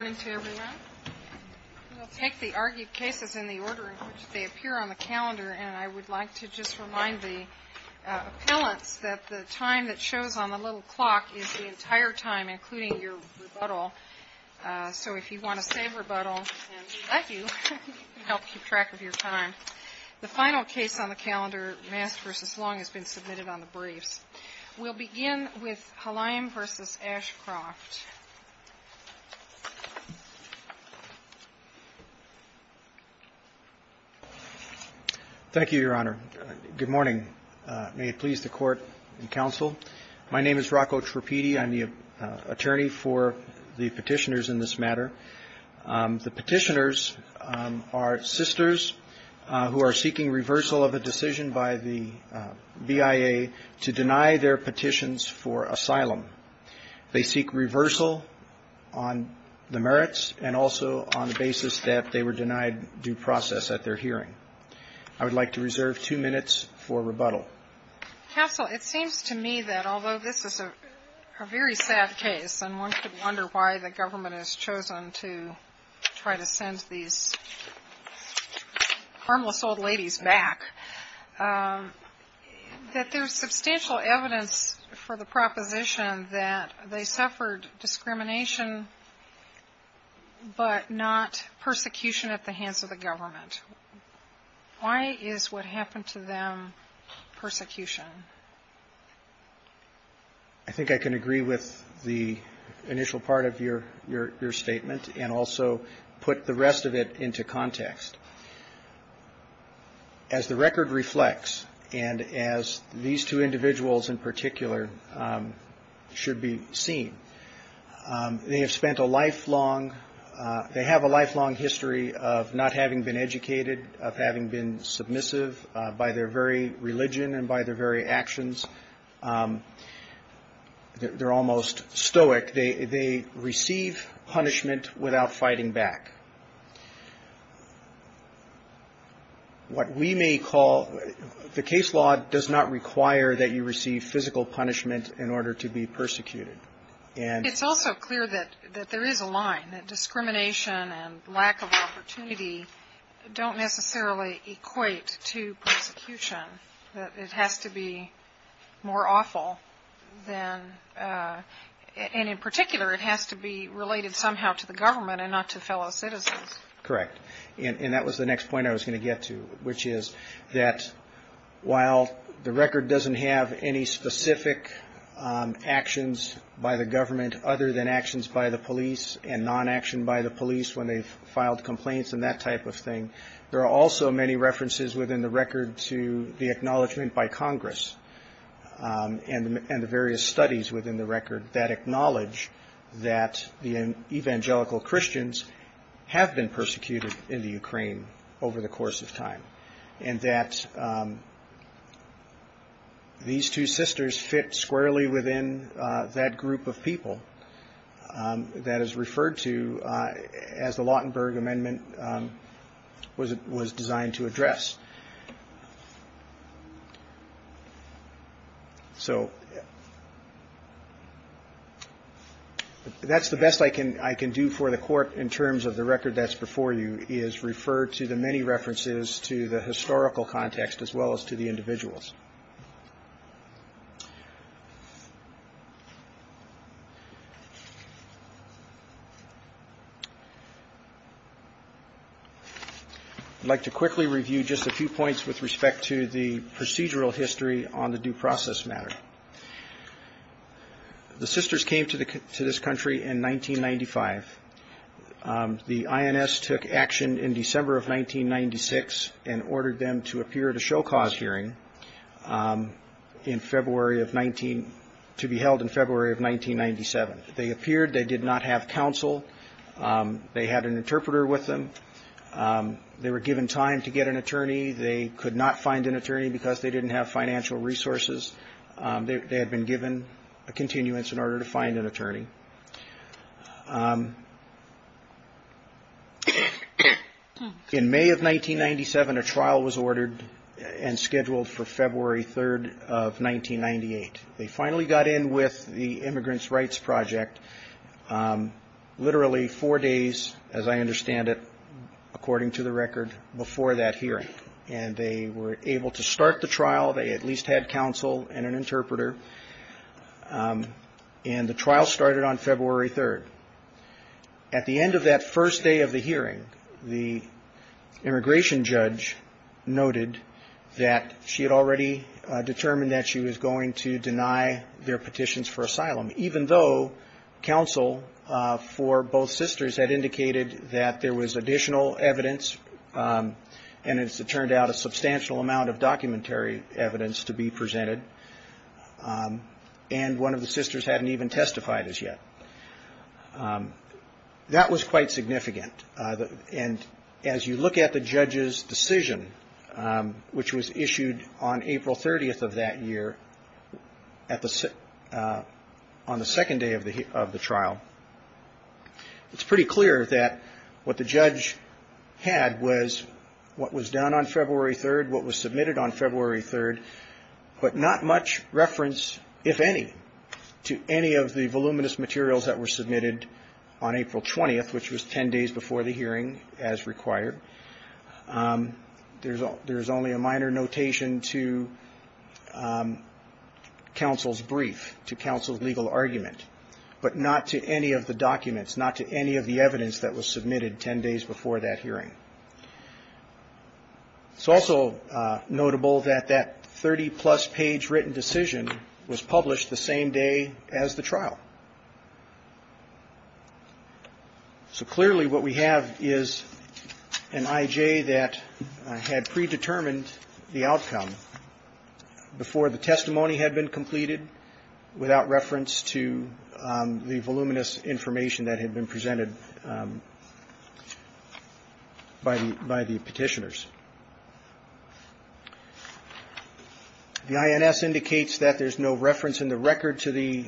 Good morning to everyone. We'll take the argued cases in the order in which they appear on the calendar, and I would like to just remind the appellants that the time that shows on the little clock is the entire time, including your rebuttal. So if you want to save rebuttal, we'd love to help keep track of your time. The final case on the calendar, Mass v. Long, has been submitted on the briefs. We'll begin with Halaim v. Ashcroft. Thank you, Your Honor. Good morning. May it please the Court and Counsel. My name is Rocco Trapiti. I'm the attorney for the petitioners in this matter. The petitioners are sisters who are seeking reversal of a decision by the BIA to deny their petitions for asylum. They seek reversal on the merits and also on the basis that they were denied due process at their hearing. I would like to reserve two minutes for rebuttal. Counsel, it seems to me that although this is a very sad case, and one could wonder why the government has chosen to try to send these harmless old ladies back, that there's substantial evidence for the proposition that they suffered discrimination but not persecution at the hands of the government. Why is what happened to them persecution? I think I can agree with the initial part of your statement and also put the rest of it into context. As the record reflects and as these two individuals in particular should be seen, they have spent a lifelong – they have a lifelong history of not having been educated, of having been submissive by their very religion and by their very actions. They're almost stoic. They receive punishment without fighting back. What we may call – the case law does not require that you receive physical punishment in order to be persecuted. It's also clear that there is a line, that discrimination and lack of opportunity don't necessarily equate to persecution. It has to be more awful than – and in particular, it has to be related somehow to the government and not to fellow citizens. Correct. And that was the next point I was going to get to, which is that while the record doesn't have any specific actions by the government other than actions by the police and non-action by the police when they've filed complaints and that type of thing, there are also many references within the record to the acknowledgement by Congress and the various studies within the record that acknowledge that the evangelical Christians have been persecuted in the Ukraine over the course of time and that these two sisters fit squarely within that group of people that is referred to as the was designed to address. So that's the best I can do for the court in terms of the record that's before you, is referred to the many references to the historical context as well as to the individuals. I'd like to quickly review just a few points with respect to the procedural history on the due process matter. The sisters came to this country in 1995. The INS took action in December of 1996 and ordered them to appear at a show cause hearing in February of – to be held in February of 1997. They appeared. They did not have counsel. They had an interpreter with them. They were given time to get an attorney. They could not find an attorney because they didn't have financial resources. They had been given a continuance in order to find an attorney. In May of 1997, a trial was ordered and scheduled for February 3rd of 1998. They finally got in with the Immigrants' Rights Project literally four days, as I understand it, according to the record, before that hearing. And they were able to start the trial. They at least had counsel and an interpreter. And the trial started on February 3rd. At the end of that first day of the hearing, the immigration judge noted that she had already determined that she was going to deny their petitions for asylum, even though counsel for both sisters had indicated that there was additional evidence, and as it turned out, a substantial amount of documentary evidence to be presented. And one of the sisters hadn't even testified as yet. That was quite significant. And as you look at the judge's decision, which was issued on April 30th of that year on the second day of the trial, it's pretty clear that what the judge had was what was done on February 3rd, what was submitted on February 3rd, but not much reference, if any, to any of the voluminous materials that were submitted on April 20th, which was 10 days before the hearing as required. There's only a minor notation to counsel's brief, to counsel's legal argument, but not to any of the documents, not to any of the evidence that was submitted 10 days before that hearing. It's also notable that that 30-plus page written decision was published the same day as the trial. So clearly what we have is an I.J. that had predetermined the outcome before the testimony had been completed, without reference to the voluminous information that had been presented by the petitioners. The INS indicates that there's no reference in the record to the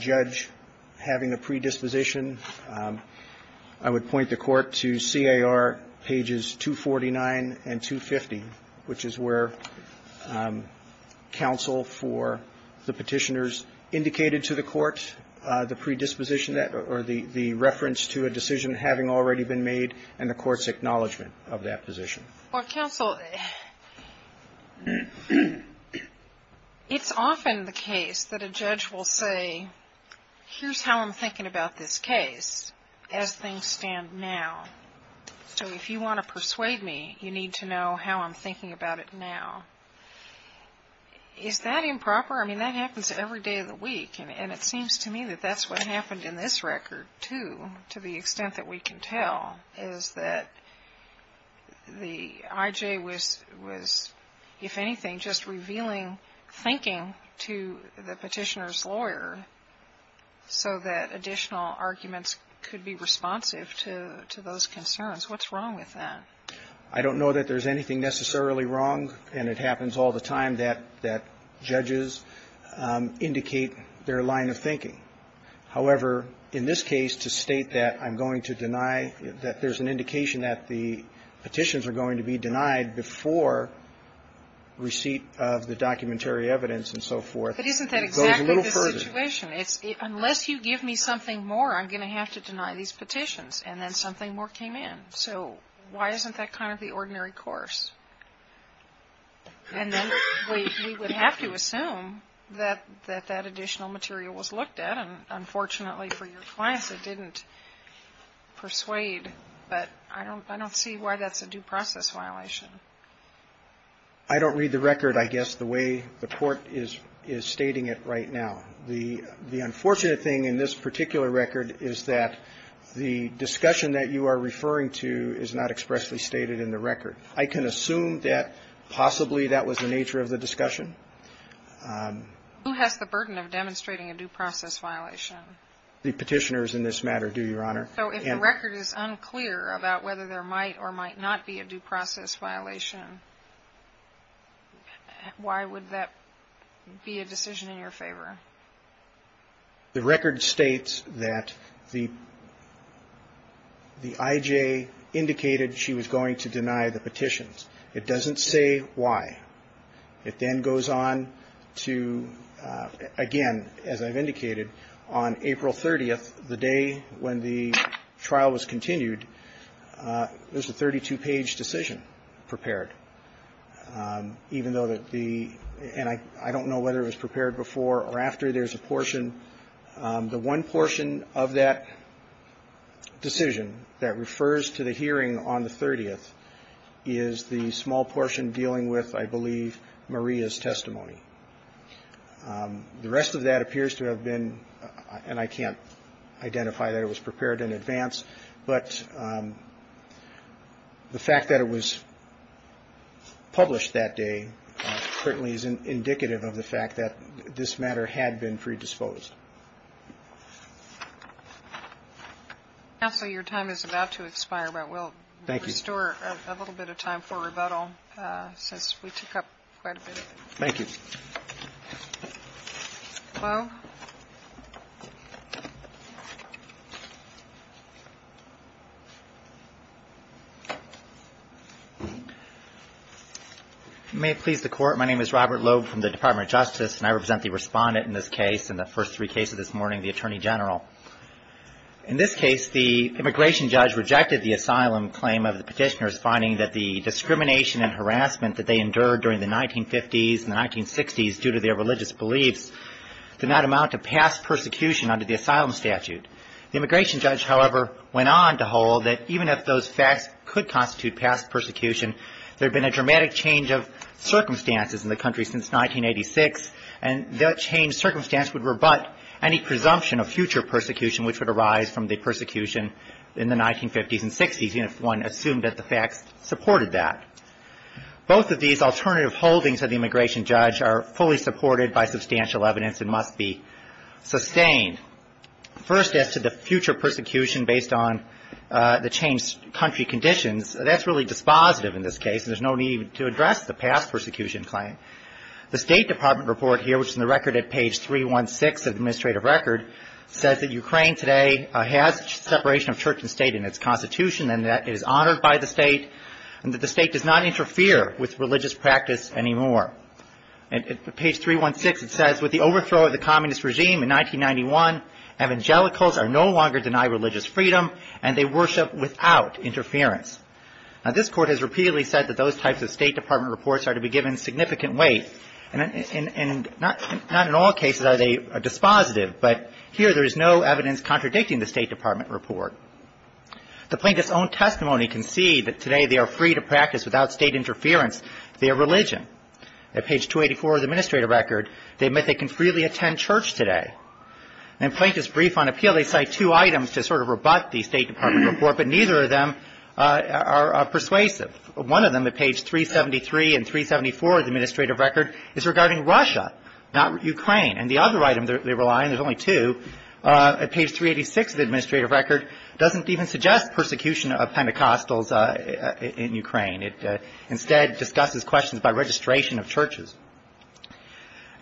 judge having a predisposition. I would point the Court to C.A.R. pages 249 and 250, which is where counsel for the petitioners indicated to the Court the predisposition or the reference to a decision having already been made and the Court's acknowledgement of that position. Well, counsel, it's often the case that a judge will say, here's how I'm thinking about this case as things stand now. So if you want to persuade me, you need to know how I'm thinking about it now. Is that improper? I mean, that happens every day of the week, and it seems to me that that's what happened in this record, too, to the extent that we can tell, is that the I.J. was, if anything, just revealing thinking to the petitioner's lawyer so that additional arguments could be responsive to those concerns. What's wrong with that? I don't know that there's anything necessarily wrong, and it happens all the time, that judges indicate their line of thinking. However, in this case, to state that I'm going to deny, that there's an indication that the petitions are going to be denied before receipt of the documentary evidence and so forth goes a little further. But isn't that exactly the situation? It's unless you give me something more, I'm going to have to deny these petitions, and then something more came in. So why isn't that kind of the ordinary course? And then we would have to assume that that additional material was looked at. And unfortunately for your class, it didn't persuade. But I don't see why that's a due process violation. I don't read the record, I guess, the way the Court is stating it right now. The unfortunate thing in this particular record is that the discussion that you are referring to is not expressly stated in the record. I can assume that possibly that was the nature of the discussion. Who has the burden of demonstrating a due process violation? The petitioners in this matter do, Your Honor. So if the record is unclear about whether there might or might not be a due process violation, why would that be a decision in your favor? The record states that the I.J. indicated she was going to deny the petitions. It doesn't say why. It then goes on to, again, as I've indicated, on April 30th, the day when the trial was continued, there's a 32-page decision prepared. Even though that the – and I don't know whether it was prepared before or after. There's a portion. The one portion of that decision that refers to the hearing on the 30th is the small portion dealing with, I believe, Maria's testimony. The rest of that appears to have been – and I can't identify that it was prepared in advance. But the fact that it was published that day certainly is indicative of the fact that this matter had been predisposed. Counsel, your time is about to expire, but we'll restore a little bit of time for rebuttal since we took up quite a bit of it. Thank you. Hello? May it please the Court. My name is Robert Loeb from the Department of Justice, and I represent the Respondent in this case and the first three cases this morning, the Attorney General. In this case, the immigration judge rejected the asylum claim of the petitioners, finding that the discrimination and harassment that they endured during the 1950s and the 1960s due to their religious beliefs did not amount to past persecution under the asylum statute. The immigration judge, however, went on to hold that even if those facts could constitute past persecution, there had been a dramatic change of circumstances in the country since 1986, and that changed circumstance would rebut any presumption of future persecution, which would arise from the persecution in the 1950s and 1960s, even if one assumed that the facts supported that. Both of these alternative holdings of the immigration judge are fully supported by substantial evidence and must be sustained. First, as to the future persecution based on the changed country conditions, that's really dispositive in this case, and there's no need to address the past persecution claim. The State Department report here, which is in the record at page 316 of the administrative record, says that Ukraine today has separation of church and state in its constitution, and that it is honored by the state, and that the state does not interfere with religious practice anymore. At page 316, it says, with the overthrow of the communist regime in 1991, evangelicals are no longer denied religious freedom, and they worship without interference. Now, this Court has repeatedly said that those types of State Department reports are to be given significant weight, and not in all cases are they dispositive, but here there is no evidence contradicting the State Department report. The plaintiff's own testimony concede that today they are free to practice, without state interference, their religion. At page 284 of the administrative record, they admit they can freely attend church today. In Plaintiff's brief on appeal, they cite two items to sort of rebut the State Department report, but neither of them are persuasive. One of them, at page 373 and 374 of the administrative record, is regarding Russia, not Ukraine. And the other item they rely on, there's only two, at page 386 of the administrative record, doesn't even suggest persecution of Pentecostals in Ukraine. It instead discusses questions about registration of churches.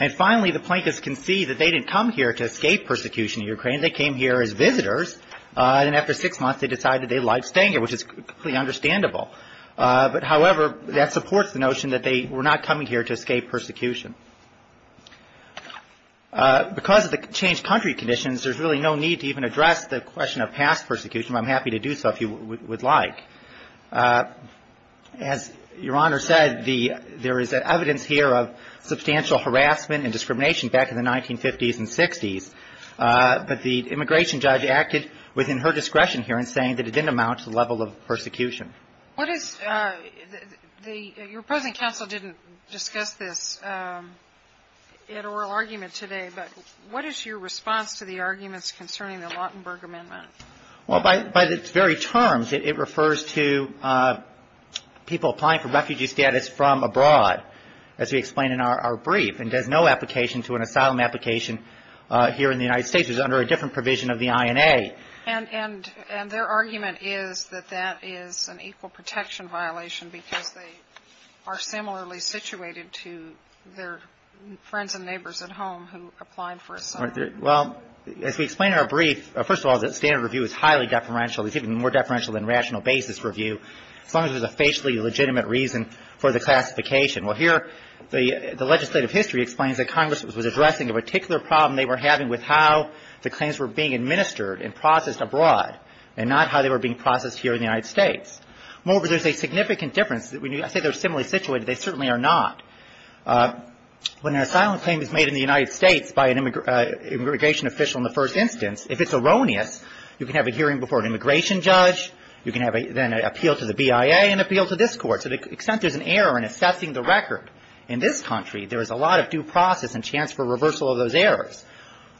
And finally, the plaintiffs concede that they didn't come here to escape persecution in Ukraine. They came here as visitors, and after six months they decided they liked staying here, which is completely understandable. But, however, that supports the notion that they were not coming here to escape persecution. Because of the changed country conditions, there's really no need to even address the question of past persecution, but I'm happy to do so if you would like. As Your Honor said, there is evidence here of substantial harassment and discrimination back in the 1950s and 60s, but the immigration judge acted within her discretion here in saying that it didn't amount to the level of persecution. Your present counsel didn't discuss this at oral argument today, but what is your response to the arguments concerning the Lautenberg Amendment? Well, by its very terms, it refers to people applying for refugee status from abroad, as we explain in our brief, and does no application to an asylum application here in the United States. It's under a different provision of the INA. And their argument is that that is an equal protection violation because they are similarly situated to their friends and neighbors at home who applied for asylum. Well, as we explain in our brief, first of all, the standard review is highly deferential. It's even more deferential than rational basis review, as long as there's a facially legitimate reason for the classification. Well, here the legislative history explains that Congress was addressing a particular problem they were having with how the claims were being administered and processed abroad, and not how they were being processed here in the United States. Moreover, there's a significant difference. When you say they're similarly situated, they certainly are not. When an asylum claim is made in the United States by an immigration official in the first instance, if it's erroneous, you can have a hearing before an immigration judge, you can then appeal to the BIA and appeal to this court. To the extent there's an error in assessing the record in this country, there is a lot of due process and chance for reversal of those errors.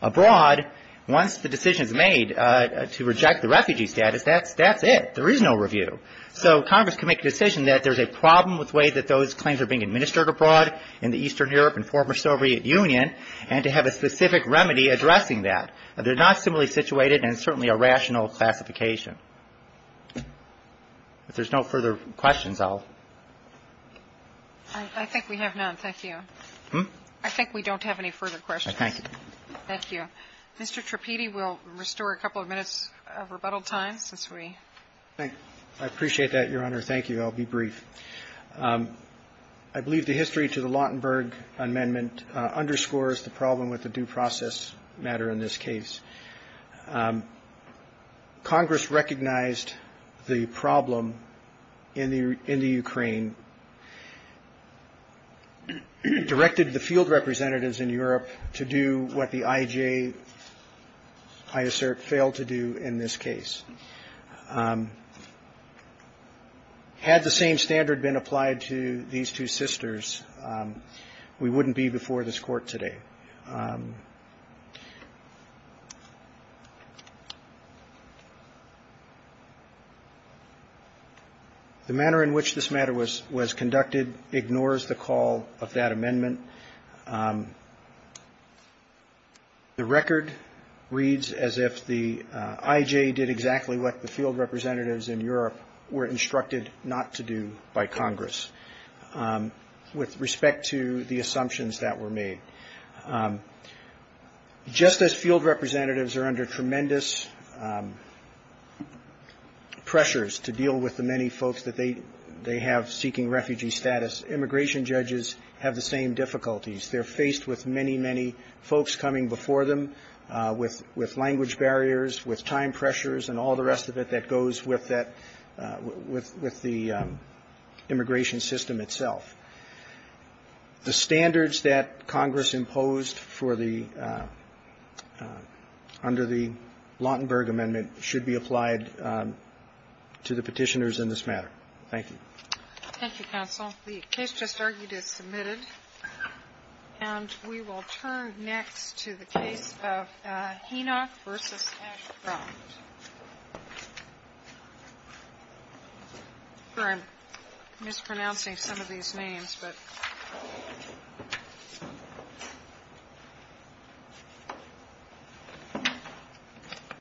Abroad, once the decision is made to reject the refugee status, that's it. There is no review. So Congress can make a decision that there's a problem with the way that those claims are being administered abroad in the Eastern Europe and former Soviet Union, and to have a specific remedy addressing that. They're not similarly situated, and it's certainly a rational classification. If there's no further questions, I'll ---- I think we have none. Thank you. Hmm? I think we don't have any further questions. I thank you. Thank you. Mr. Tripiti, we'll restore a couple of minutes of rebuttal time since we ---- Thank you. I appreciate that, Your Honor. Thank you. I'll be brief. I believe the history to the Lautenberg Amendment underscores the problem with the due process matter in this case. Congress recognized the problem in the Ukraine, directed the field representatives in Europe to do what the IJ, I assert, failed to do in this case. Had the same standard been applied to these two sisters, we wouldn't be before this Court today. The manner in which this matter was conducted ignores the call of that amendment. The record reads as if the IJ did exactly what the field representatives in Europe were instructed not to do by Congress, with respect to the assumptions that were made. Just as field representatives are under tremendous pressures to deal with the many folks that they have seeking refugee status, immigration judges have the same difficulties. They're faced with many, many folks coming before them with language barriers, with time pressures, and all the rest of it that goes with that ---- with the immigration system itself. The standards that Congress imposed for the ---- under the Lautenberg Amendment should be applied to the Petitioners in this matter. Thank you. Thank you, counsel. The case just argued is submitted. And we will turn next to the case of Henoch v. Ashcroft. I'm mispronouncing some of these names.